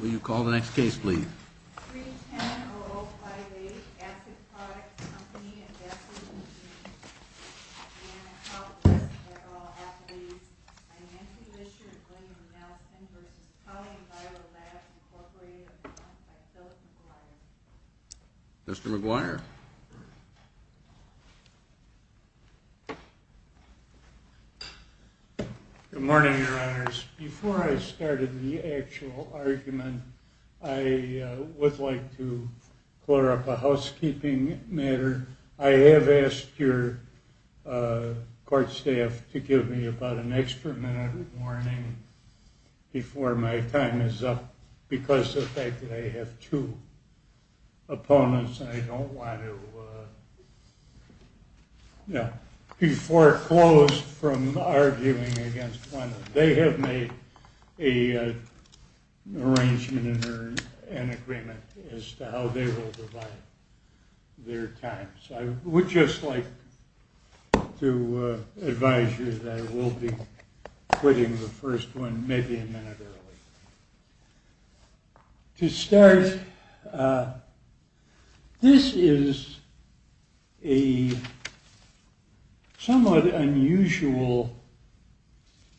Will you call the next case, please? 310-0058, Acid Products Company, in Bethlehem, New Jersey. I am at fault with this, and there are all affidavits. I am Nancy Lisher and William Nelson v. Polyenviro Labs, Incorporated, a firm by Philip McGuire. Mr. McGuire. Good morning, Your Honors. Before I started the actual argument, I would like to clear up a housekeeping matter. I have asked your court staff to give me about an extra minute of warning before my time is up because of the fact that I have two opponents, and I don't want to be foreclosed from arguing against one of them. They have made an arrangement or an agreement as to how they will divide their time, so I would just like to advise you that I will be quitting the first one maybe a minute early. To start, this is a somewhat unusual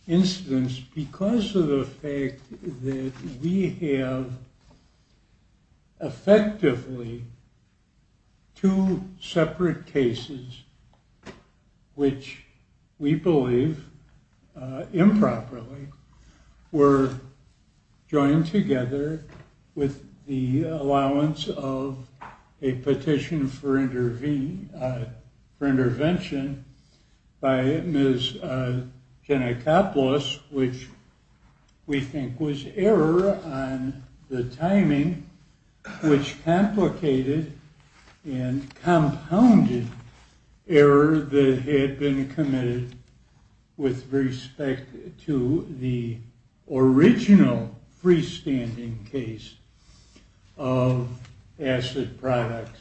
instance because of the fact that we have effectively two separate cases, which we believe improperly were joined together with the allowance of a petition for intervention by Ms. Gennacopoulos, which we think was error on the timing, which complicated and compounded error that had been committed with respect to the original freestanding case of acid products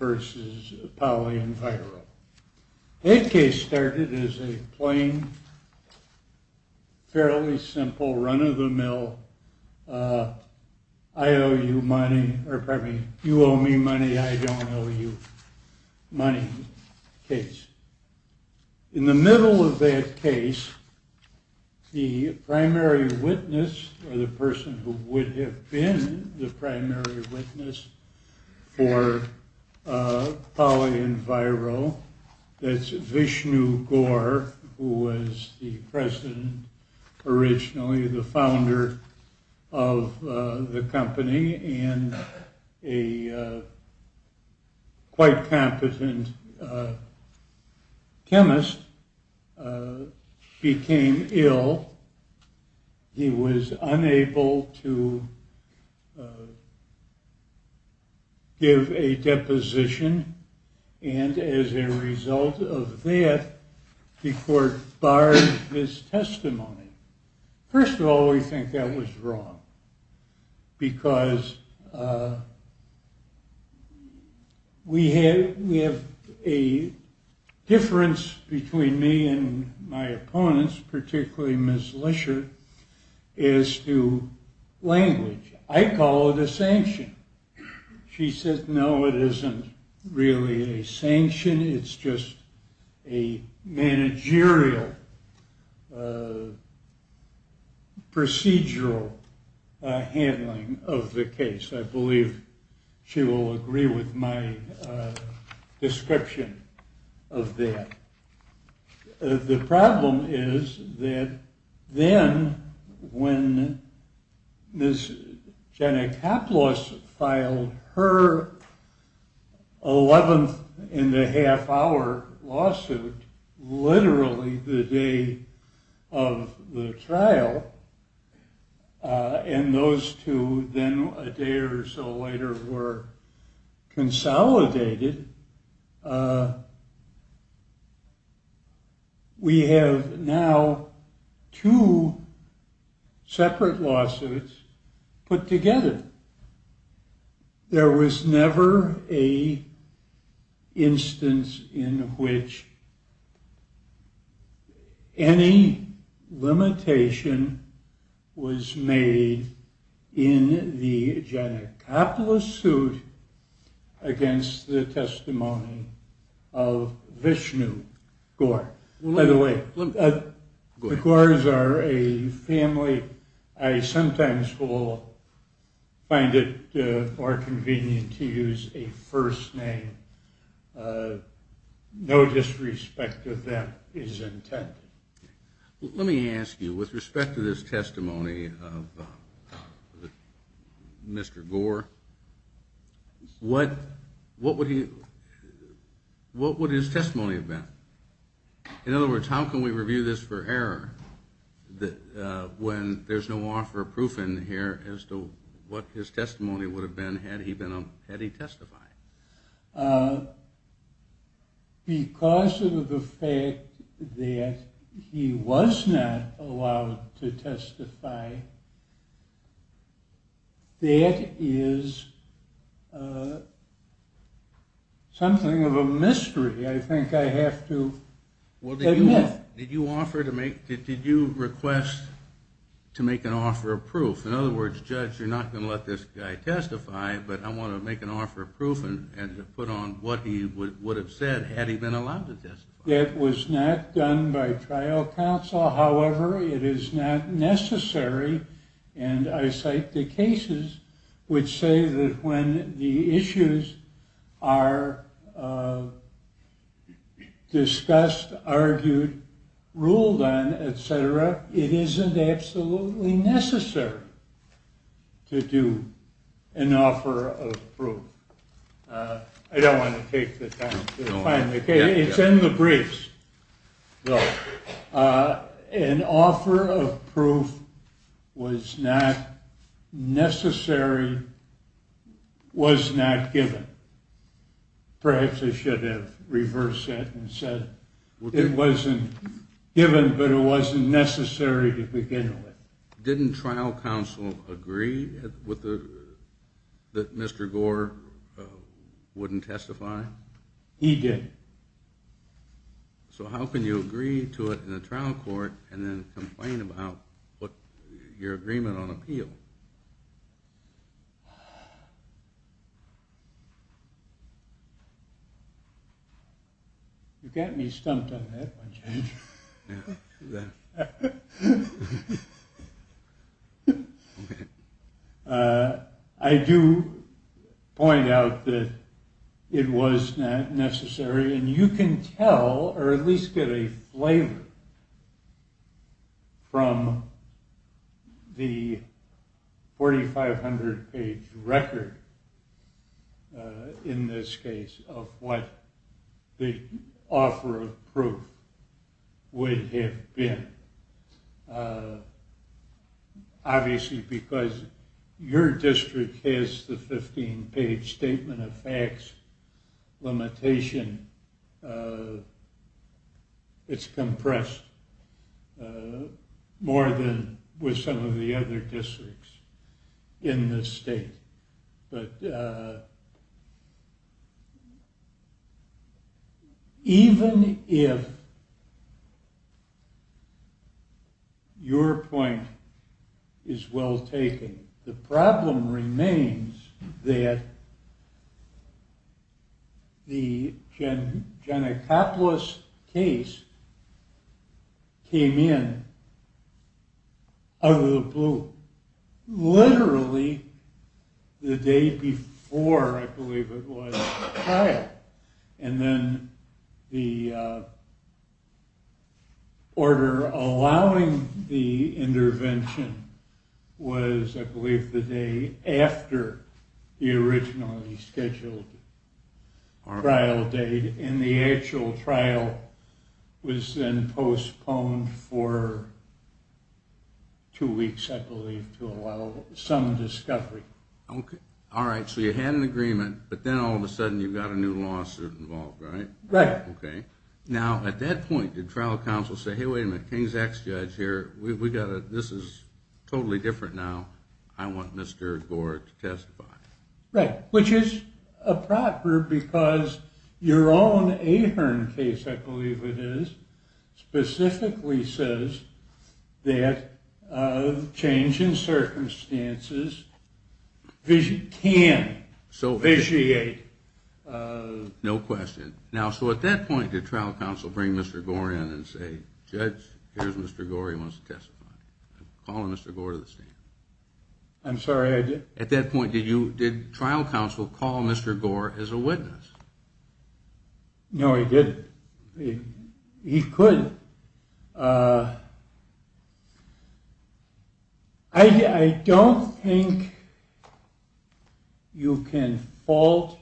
v. Polyenviro. That case started as a plain, fairly simple, run-of-the-mill, I owe you money, or pardon me, you owe me money, I don't owe you money case. In the middle of that case, the primary witness, or the person who would have been the primary witness for Polyenviro, that's Vishnu Gaur, who was the president originally, the founder of the company, and a quite competent chemist, became ill. He was unable to give a deposition, and as a result of that, the court barred his testimony. First of all, we think that was wrong, because we have a difference between me and my opponents, particularly Ms. Lesher, as to language. She said, no, it isn't really a sanction, it's just a managerial, procedural handling of the case. I believe she will agree with my description of that. The problem is that then, when Ms. Janikoplos filed her 11th-and-a-half-hour lawsuit, literally the day of the trial, and those two then, a day or so later, were consolidated, we have now two separate lawsuits put together. There was never an instance in which any limitation was made in the Janikoplos suit against the testimony of Vishnu Gaur. By the way, the Gaurs are a family, I sometimes find it more convenient to use a first name. No disrespect of that is intended. Let me ask you, with respect to this testimony of Mr. Gaur, what would his testimony have been? In other words, how can we review this for error, when there's no offer of proof in here as to what his testimony would have been had he testified? Because of the fact that he was not allowed to testify, that is something of a mystery, I think I have to admit. Did you request to make an offer of proof? In other words, judge, you're not going to let this guy testify, but I want to make an offer of proof and put on what he would have said had he been allowed to testify. That was not done by trial counsel, however, it is not necessary, and I cite the cases which say that when the issues are discussed, argued, ruled on, etc., it isn't absolutely necessary to do an offer of proof. I don't want to take the time to find the case, it's in the briefs. An offer of proof was not necessary, was not given. Perhaps they should have reversed that and said it wasn't given, but it wasn't necessary to begin with. Didn't trial counsel agree that Mr. Gore wouldn't testify? He did. So how can you agree to it in a trial court and then complain about your agreement on appeal? You got me stumped on that one, James. I do point out that it was necessary, and you can tell, or at least get a flavor, from the 4500 page record, in this case, of what the offer of proof would have been. Obviously because your district has the 15 page statement of facts limitation, it's compressed more than with some of the other districts in this state. But even if your point is well taken, the problem remains that the Janakoplos case came in out of the blue. Literally the day before, I believe it was, the trial. And then the order allowing the intervention was, I believe, the day after the originally scheduled trial date. And the actual trial was then postponed for two weeks, I believe, to allow some discovery. All right, so you had an agreement, but then all of a sudden you've got a new lawsuit involved, right? Right. Now, at that point, did trial counsel say, hey, wait a minute, King's ex-judge here, this is totally different now, I want Mr. Gore to testify? Right. Which is improper, because your own Ahern case, I believe it is, specifically says that change in circumstances can vitiate... No question. Now, so at that point, did trial counsel bring Mr. Gore in and say, judge, here's Mr. Gore, he wants to testify. Call on Mr. Gore to the stand. I'm sorry, I did? At that point, did trial counsel call Mr. Gore as a witness? No, he didn't. He couldn't. I don't think you can fault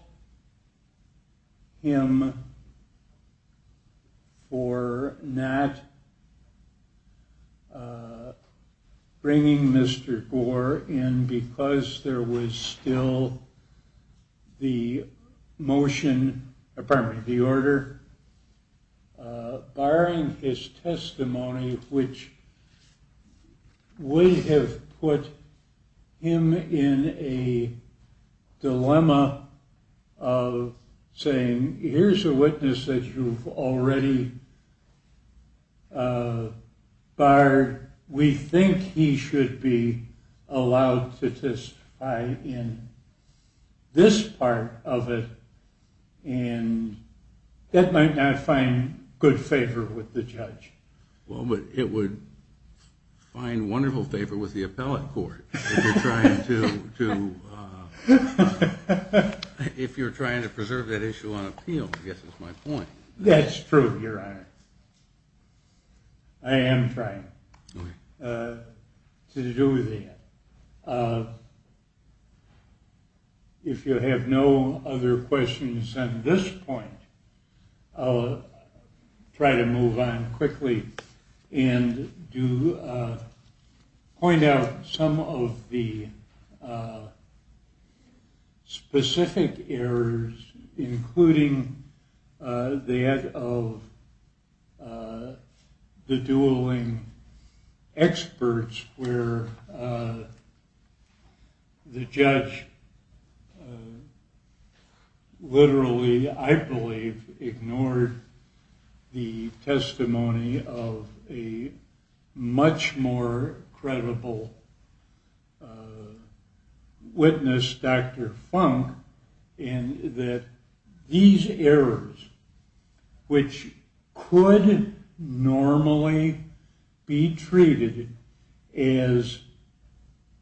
him for not bringing Mr. Gore in because there was still the order. Barring his testimony, which would have put him in a dilemma of saying, here's a witness that you've already barred. We think he should be allowed to testify in this part of it, and that might not find good favor with the judge. Well, it would find wonderful favor with the appellate court if you're trying to preserve that issue on appeal, I guess is my point. That's true, your honor. I am trying to do that. If you have no other questions on this point, I'll try to move on quickly and point out some of the specific errors, including that of the dueling experts where the judge literally, I believe, ignored the testimony of a much more credible witness, Dr. Funk, and that these errors, which could normally be treated as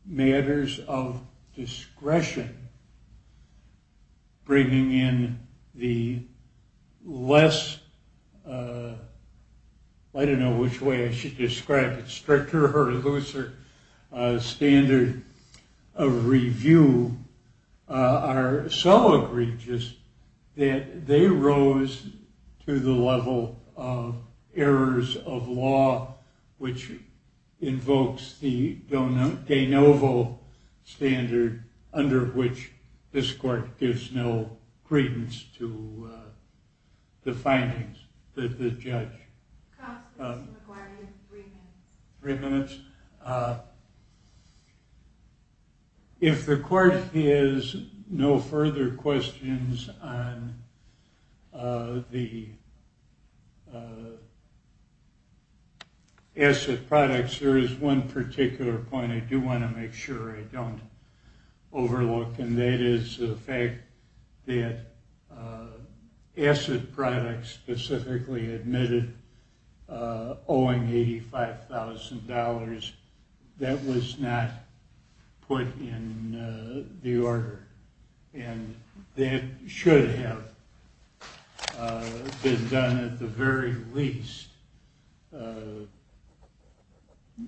matters of discretion, bringing in the less, I don't know which way I should describe it, stricter or looser standard of review, are so egregious that they rose to the level of errors of law, which invokes the de novo standard, under which this court gives no credence to the findings of the judge. Three minutes. If the court has no further questions on the asset products, there is one particular point I do want to make sure I don't overlook, and that is the fact that asset products specifically admitted owing $85,000, that was not put in the order. And that should have been done at the very least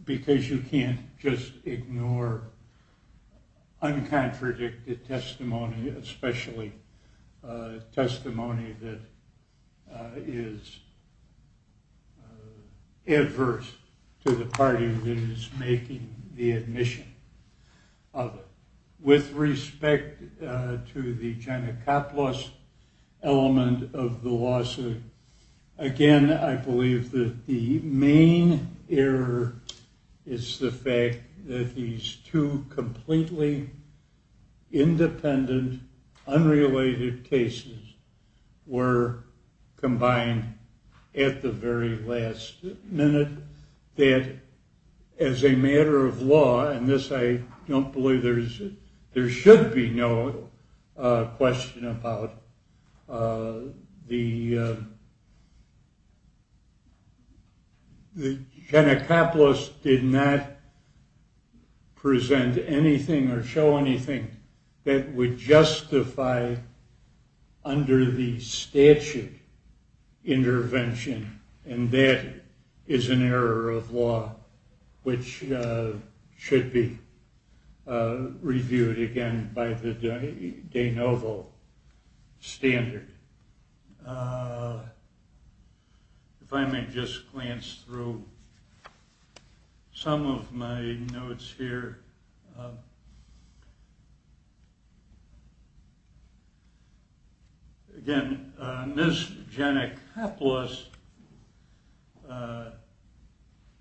because you can't just ignore uncontradicted testimony, especially testimony that is adverse to the party that is making the admission of it. With respect to the China cop loss element of the lawsuit, again, I believe that the main error is the fact that these two completely independent, unrelated cases were combined at the very last minute, that as a matter of law, and this I don't believe there should be no question about, the China cop loss did not present anything or show anything that would justify under the statute intervention, and that is an error of law which should be reviewed again by the de novo standard. If I may just glance through some of my notes here. Again, Ms. Jennick Hoplos,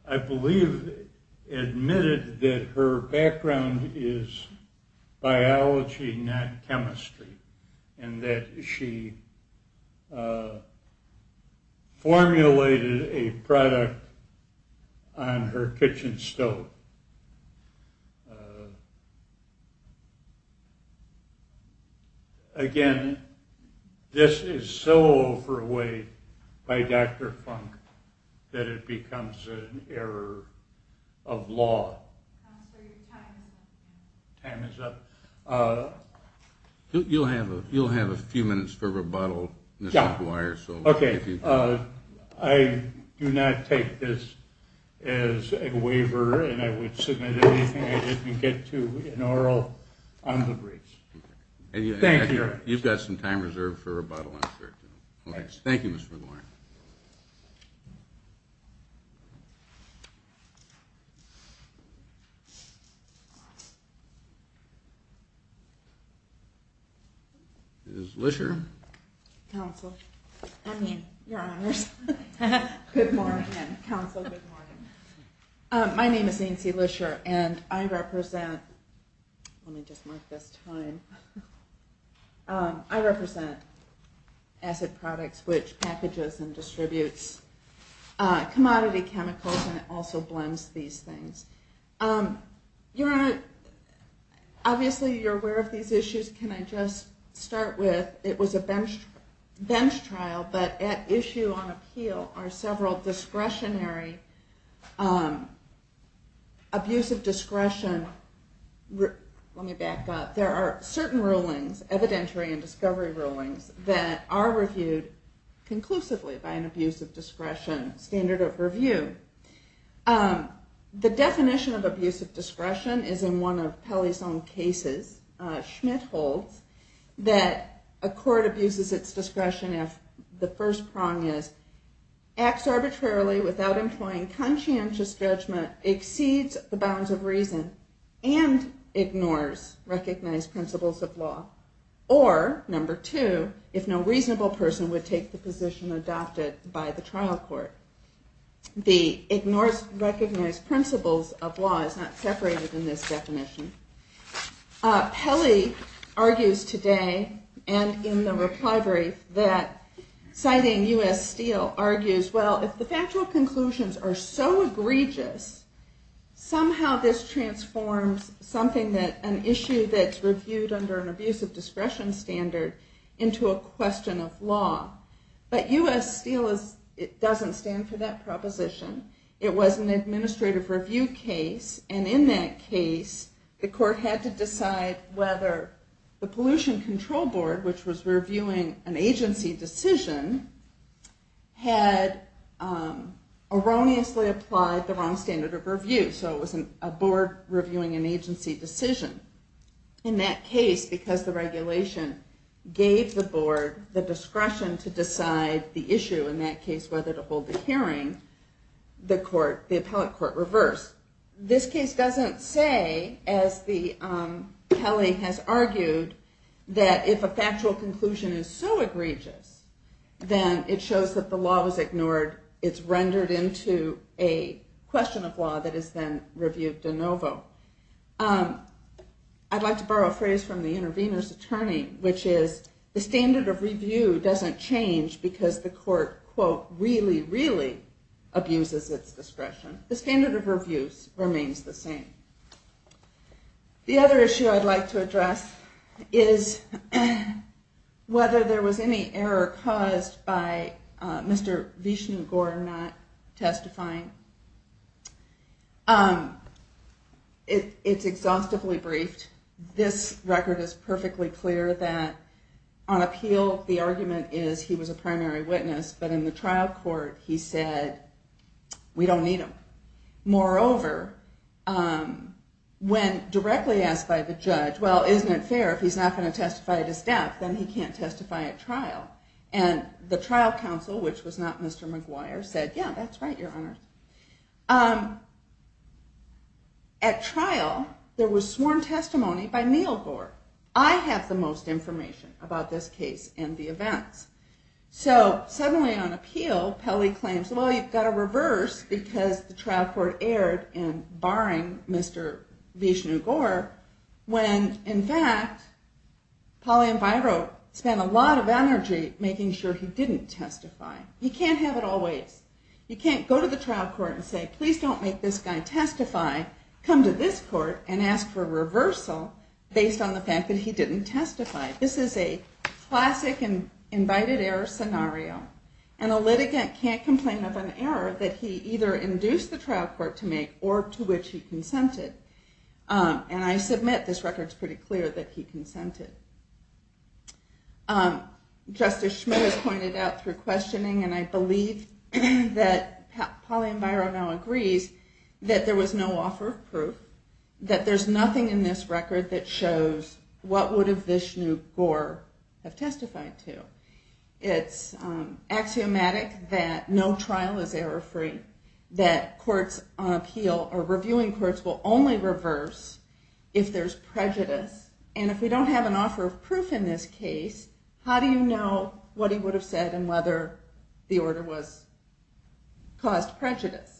I believe admitted that her background is biology, not chemistry, and that she formulated a product on her kitchen stove. Again, this is so overweight by Dr. Funk that it becomes an error of law. Time is up. You'll have a few minutes for rebuttal, Mr. McGuire. I do not take this as a waiver and I would submit anything I didn't get to in oral on the briefs. Thank you. You've got some time reserved for rebuttal. Thank you, Mr. McGuire. Counsel, good morning. Counsel, good morning. My name is Ainsley Lisher and I represent, let me just mark this time, I represent Acid Products, which packages and distributes commodity chemicals and also blends these things. Obviously you're aware of these issues, can I just start with, it was a bench trial, but at issue on appeal are several discretionary, abusive discretion, let me back up, there are certain rulings, evidentiary and discovery rulings, that are reviewed conclusively by an abusive discretion standard of review. The definition of abusive discretion is in one of Pelley's own cases, Schmidt holds, that a court abuses its discretion if the first prong is, acts arbitrarily without employing conscientious judgment, exceeds the bounds of reason, and ignores recognized principles of law. Or, number two, if no reasonable person would take the position adopted by the trial court. The ignores recognized principles of law is not separated in this definition. Pelley argues today, and in the reply brief, that citing U.S. Steel argues, well, if the factual conclusions are so egregious, somehow this transforms something that, an issue that's reviewed under an abusive discretion standard, into a question of law. But U.S. Steel doesn't stand for that proposition, it was an administrative review case, and in that case, the court had to decide whether the pollution control board, which was reviewing an agency decision, had erroneously applied the wrong standard of review, so it was a board reviewing an agency decision. In that case, because the regulation gave the board the discretion to decide the issue, in that case, whether to hold the hearing, the appellate court reversed. This case doesn't say, as Pelley has argued, that if a factual conclusion is so egregious, then it shows that the law was ignored, or it's rendered into a question of law that is then reviewed de novo. I'd like to borrow a phrase from the intervener's attorney, which is, the standard of review doesn't change because the court, quote, really, really abuses its discretion. The standard of review remains the same. The other issue I'd like to address is whether there was any error caused by Mr. Vishnugor not testifying. It's exhaustively briefed. This record is perfectly clear that on appeal, the argument is he was a primary witness, but in the trial court, he said, we don't need him. Moreover, when directly asked by the judge, well, isn't it fair if he's not going to testify at his death, then he can't testify at trial. And the trial counsel, which was not Mr. McGuire, said, yeah, that's right, your honor. At trial, there was sworn testimony by Neil Gore. I have the most information about this case and the events. So suddenly on appeal, Pelley claims, well, you've got to reverse because the trial court erred in barring Mr. Vishnugor when, in fact, Pauline Viro spent a lot of energy making sure he didn't testify. You can't have it always. You can't go to the trial court and say, please don't make this guy testify. Come to this court and ask for a reversal based on the fact that he didn't testify. This is a classic invited error scenario. And a litigant can't complain of an error that he either induced the trial court to make or to which he consented. And I submit this record is pretty clear that he consented. Justice Schmitt has pointed out through questioning, and I believe that Pauline Viro now agrees, that there was no offer of proof. That there's nothing in this record that shows what would have Vishnugor have testified to. It's axiomatic that no trial is error free. That courts on appeal or reviewing courts will only reverse if there's prejudice. And if we don't have an offer of proof in this case, how do you know what he would have said and whether the order caused prejudice?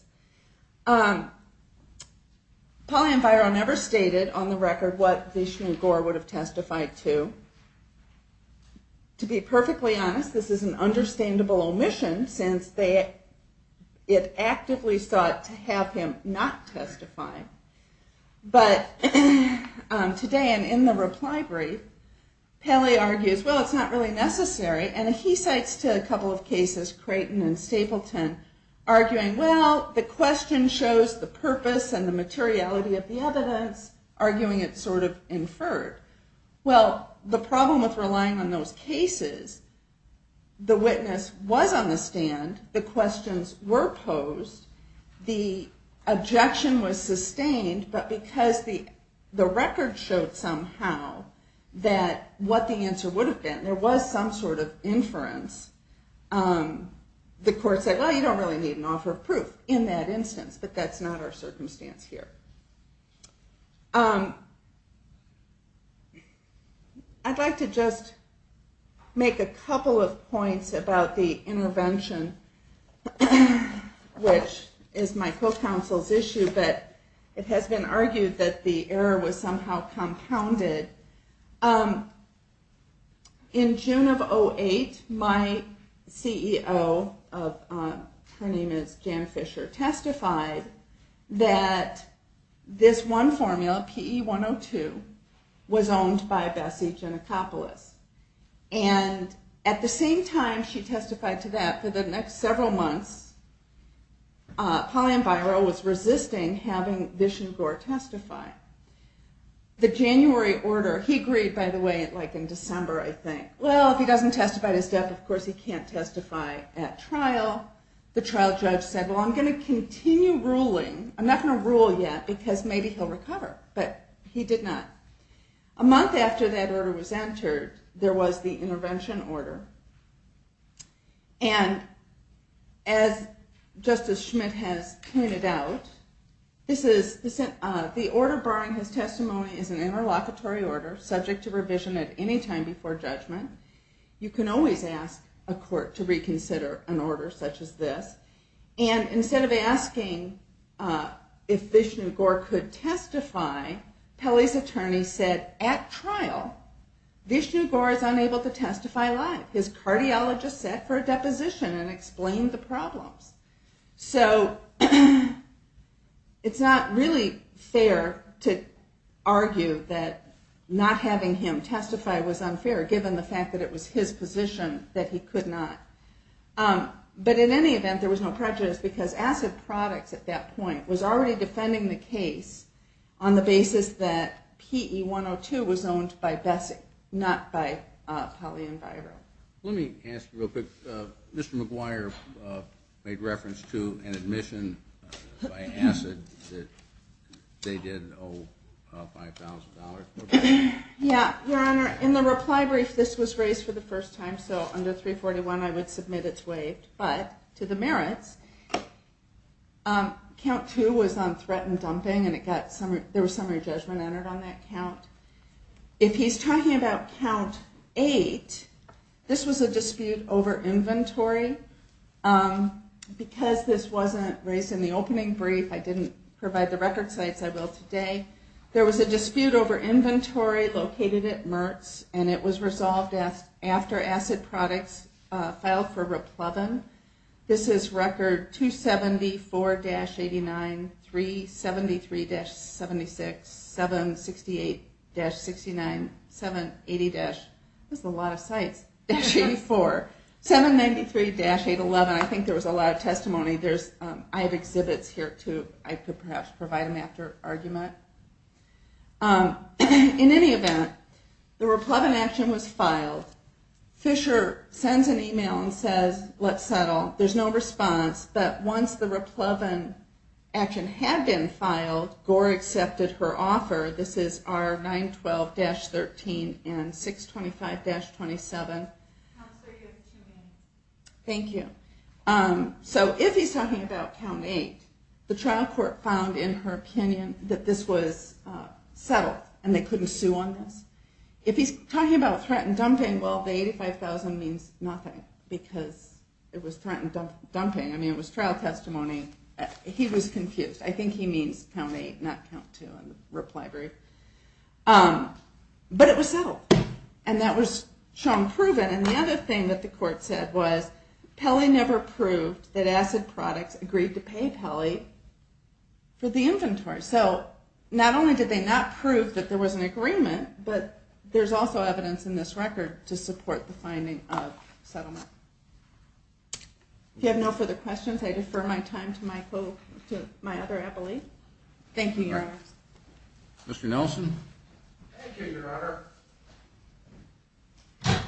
Pauline Viro never stated on the record what Vishnugor would have testified to. To be perfectly honest, this is an understandable omission since it actively sought to have him not testify. But today and in the reply brief, Paley argues, well, it's not really necessary. And he cites a couple of cases, Creighton and Stapleton, arguing, well, the question shows the purpose and the materiality of the evidence, arguing it's sort of inferred. Well, the problem with relying on those cases, the witness was on the stand. The questions were posed. The objection was sustained, but because the record showed somehow that what the answer would have been, there was some sort of inference. The court said, well, you don't really need an offer of proof in that instance, but that's not our circumstance here. I'd like to just make a couple of points about the intervention, which is my co-counsel's issue. But it has been argued that the error was somehow compounded. In June of 2008, my CEO, her name is Jan Fisher, testified that this wonderful case was not a case of bias. That one formula, PE 102, was owned by Bessie Genicopolis. And at the same time she testified to that, for the next several months, Pauline Biro was resisting having Vishnugor testify. The January order, he agreed, by the way, like in December, I think, well, if he doesn't testify at his death, of course he can't testify at trial. The trial judge said, well, I'm going to continue ruling. I'm not going to rule yet, because maybe he'll recover. But he did not. A month after that order was entered, there was the intervention order. And as Justice Schmidt has pointed out, the order barring his testimony is an interlocutory order, subject to revision at any time before judgment. You can always ask a court to reconsider an order such as this. And instead of asking if Vishnugor could testify, Pelley's attorney said, at trial, Vishnugor is unable to testify live. His cardiologist sat for a deposition and explained the problems. So it's not really fair to argue that not having him testify was unfair, given the fact that he was not able to testify. Given the fact that it was his position that he could not. But in any event, there was no prejudice, because Acid Products at that point was already defending the case on the basis that PE-102 was owned by Bessey, not by Pelley and Biro. Let me ask you real quick, Mr. McGuire made reference to an admission by Acid that they did owe $5,000. Yeah, your honor, in the reply brief, this was raised for the first time, so under 341 I would submit it's waived. But to the merits, count two was on threat and dumping, and there was summary judgment entered on that count. If he's talking about count eight, this was a dispute over inventory. Because this wasn't raised in the opening brief, I didn't provide the record sites, I will today. There was a dispute over inventory located at Mertz, and it was resolved after Acid Products filed for Repleven. This is record 274-89, 373-76, 768-69, 780-84, 793-811, I think there was a lot of testimony. I have exhibits here too, I could perhaps provide them after argument. In any event, the Repleven action was filed. Fisher sends an email and says, let's settle. There's no response, but once the Repleven action had been filed, Gore accepted her offer. This is R912-13 and 625-27. Thank you. So if he's talking about count eight, the trial court found in her opinion that this was settled, and they couldn't sue on this. If he's talking about threat and dumping, well the 85,000 means nothing, because it was threat and dumping. It was trial testimony, he was confused. But it was settled, and that was shown proven. And the other thing that the court said was, Pelley never proved that Acid Products agreed to pay Pelley for the inventory. So not only did they not prove that there was an agreement, but there's also evidence in this record to support the finding of settlement. If you have no further questions, I defer my time to my other appellee. Thank you, Your Honor. Mr. Nelson. Thank you, Your Honor.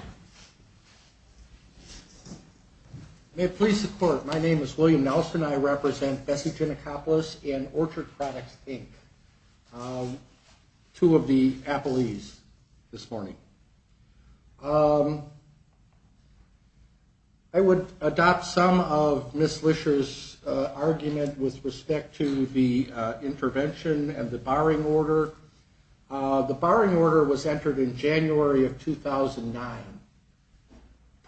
May it please the court, my name is William Nelson, I represent Bessie Genicopolis and Orchard Products, Inc. Two of the appellees this morning. I would adopt some of Ms. Lisher's argument with respect to the intervention and the barring order. The barring order was entered in January of 2009.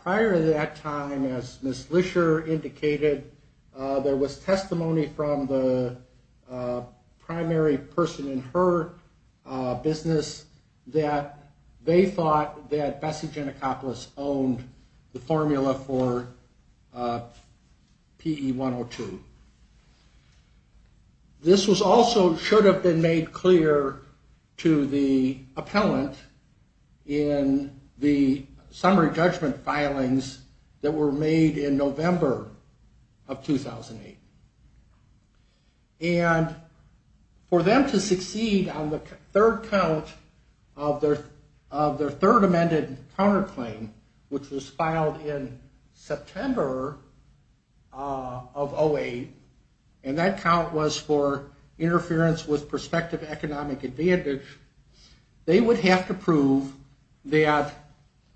Prior to that time, as Ms. Lisher indicated, there was testimony from the primary prosecutor, a person in her business, that they thought that Bessie Genicopolis owned the formula for PE 102. This also should have been made clear to the appellant in the summary judgment filings that were made in November of 2008. And for them to succeed on the third count of their third amended counterclaim, which was filed in September of 2008, and that count was for interference with prospective economic advantage, they would have to prove that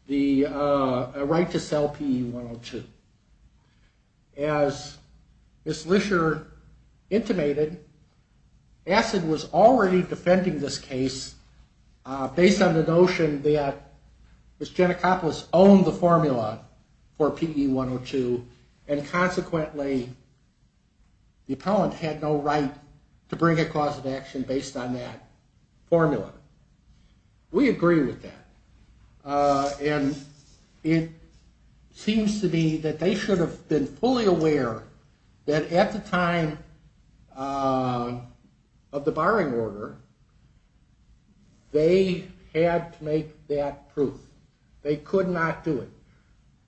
the right to sell PE 102. As Ms. Lisher intimated, ACID was already defending this case based on the notion that Ms. Genicopolis owned the formula for PE 102 and consequently the appellant had no right to bring a cause of action based on that formula. We agree with that. And it seems to be that they should have been fully aware that at the time of the barring order, they had to make that proof. They could not do it.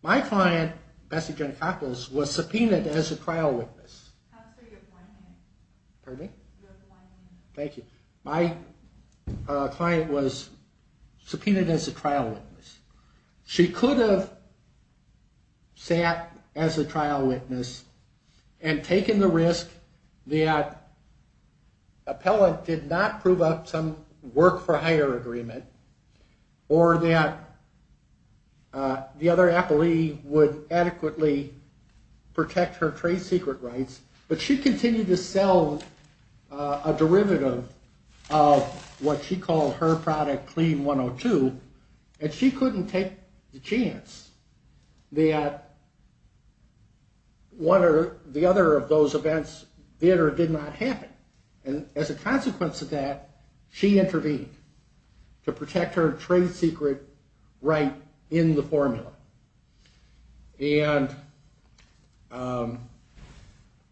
My client, Bessie Genicopolis, was subpoenaed as a trial witness. My client was subpoenaed as a trial witness. She could have sat as a trial witness and taken the risk that the appellant did not prove some work for hire agreement or that the other appellee would adequately protect her trade secret rights. But she continued to sell a derivative of what she called her product, Clean 102, and she couldn't take the chance that the other of those events did or did not happen. As a consequence of that, she intervened to protect her trade secret right in the formula. There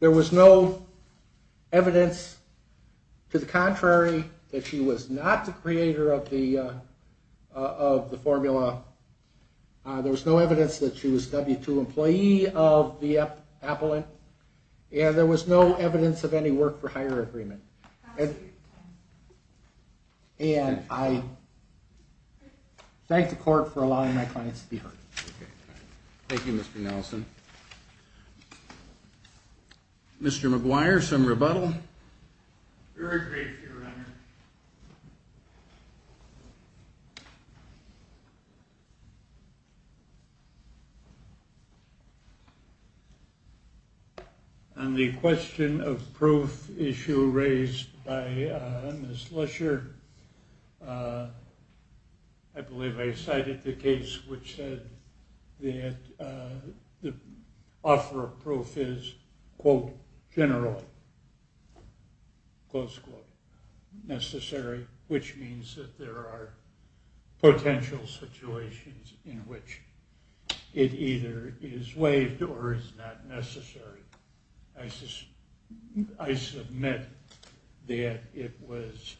was no evidence to the contrary that she was not the creator of the formula. There was no evidence that she was W-2 employee of the appellant. And there was no evidence of any work for hire agreement. And I thank the court for allowing my client to be heard. Thank you, Mr. Nelson. Mr. McGuire, some rebuttal? On the question of proof issue raised by Ms. Lesher, I believe I cited the case which said that the offer of proof is, quote, generally, close quote, necessary, which means that there are potential situations in which it either is waived or is not necessary. I submit that it was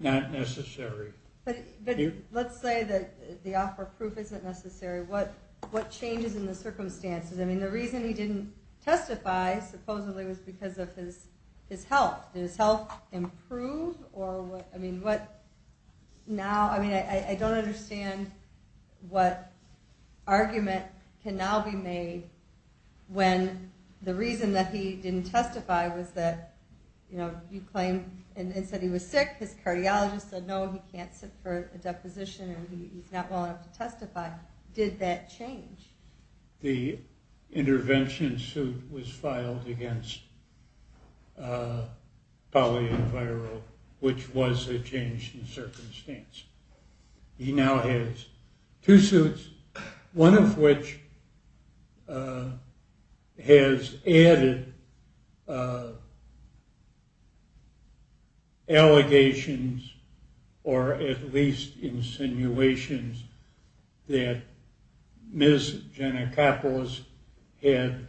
not necessary. But let's say that the offer of proof isn't necessary. What changes in the circumstances? I mean, the reason he didn't testify, supposedly, was because of his health. Did his health improve? I mean, I don't understand what argument can now be made when the reason that he didn't testify was that you claimed and said he was sick. His cardiologist said, no, he can't sit for a deposition and he's not well enough to testify. Did that change? Yes, the intervention suit was filed against Pauline Viro, which was a change in circumstance. He now has two suits, one of which has added allegations, or at least insinuations, that Ms. Gennacopoulos had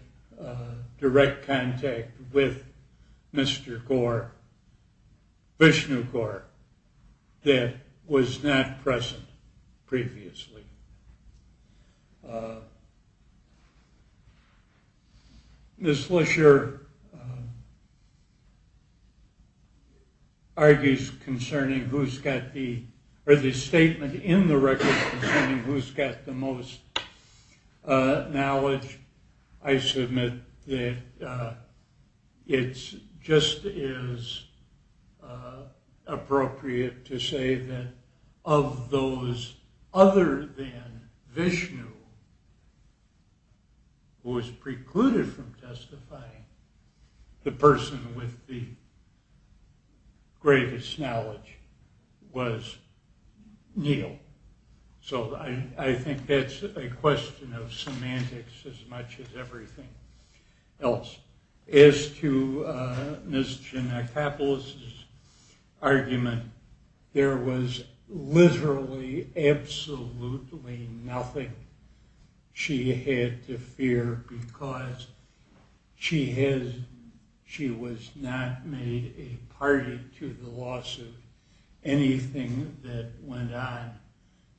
direct contact with Mr. Gore, Vishnu Gore, that was not present previously. Ms. Fletcher argues concerning who's got the or the statement in the record concerning who's got the most knowledge. I submit that it's just as appropriate to say that of those other than Vishnu who was precluded from testifying, the person with the greatest knowledge was Neal. So I think that's a question of semantics as much as everything else. As to Ms. Gennacopoulos' argument, there was literally absolutely nothing she had to fear because she was not made a party to the lawsuit. Anything that went on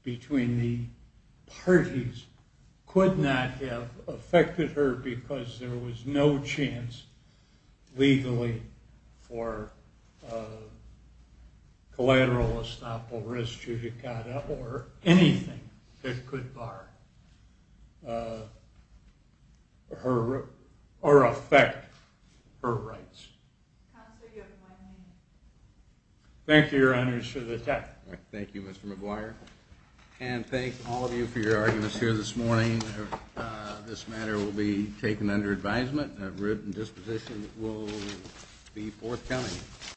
between the parties could not have affected her because there was no chance legally for collateral estoppel res judicata or anything that could bar her or affect her rights. Thank you, Your Honor. Thank you, Mr. McGuire. And thank all of you for your arguments here this morning. This matter will be taken under advisement. A written disposition will be forthcoming.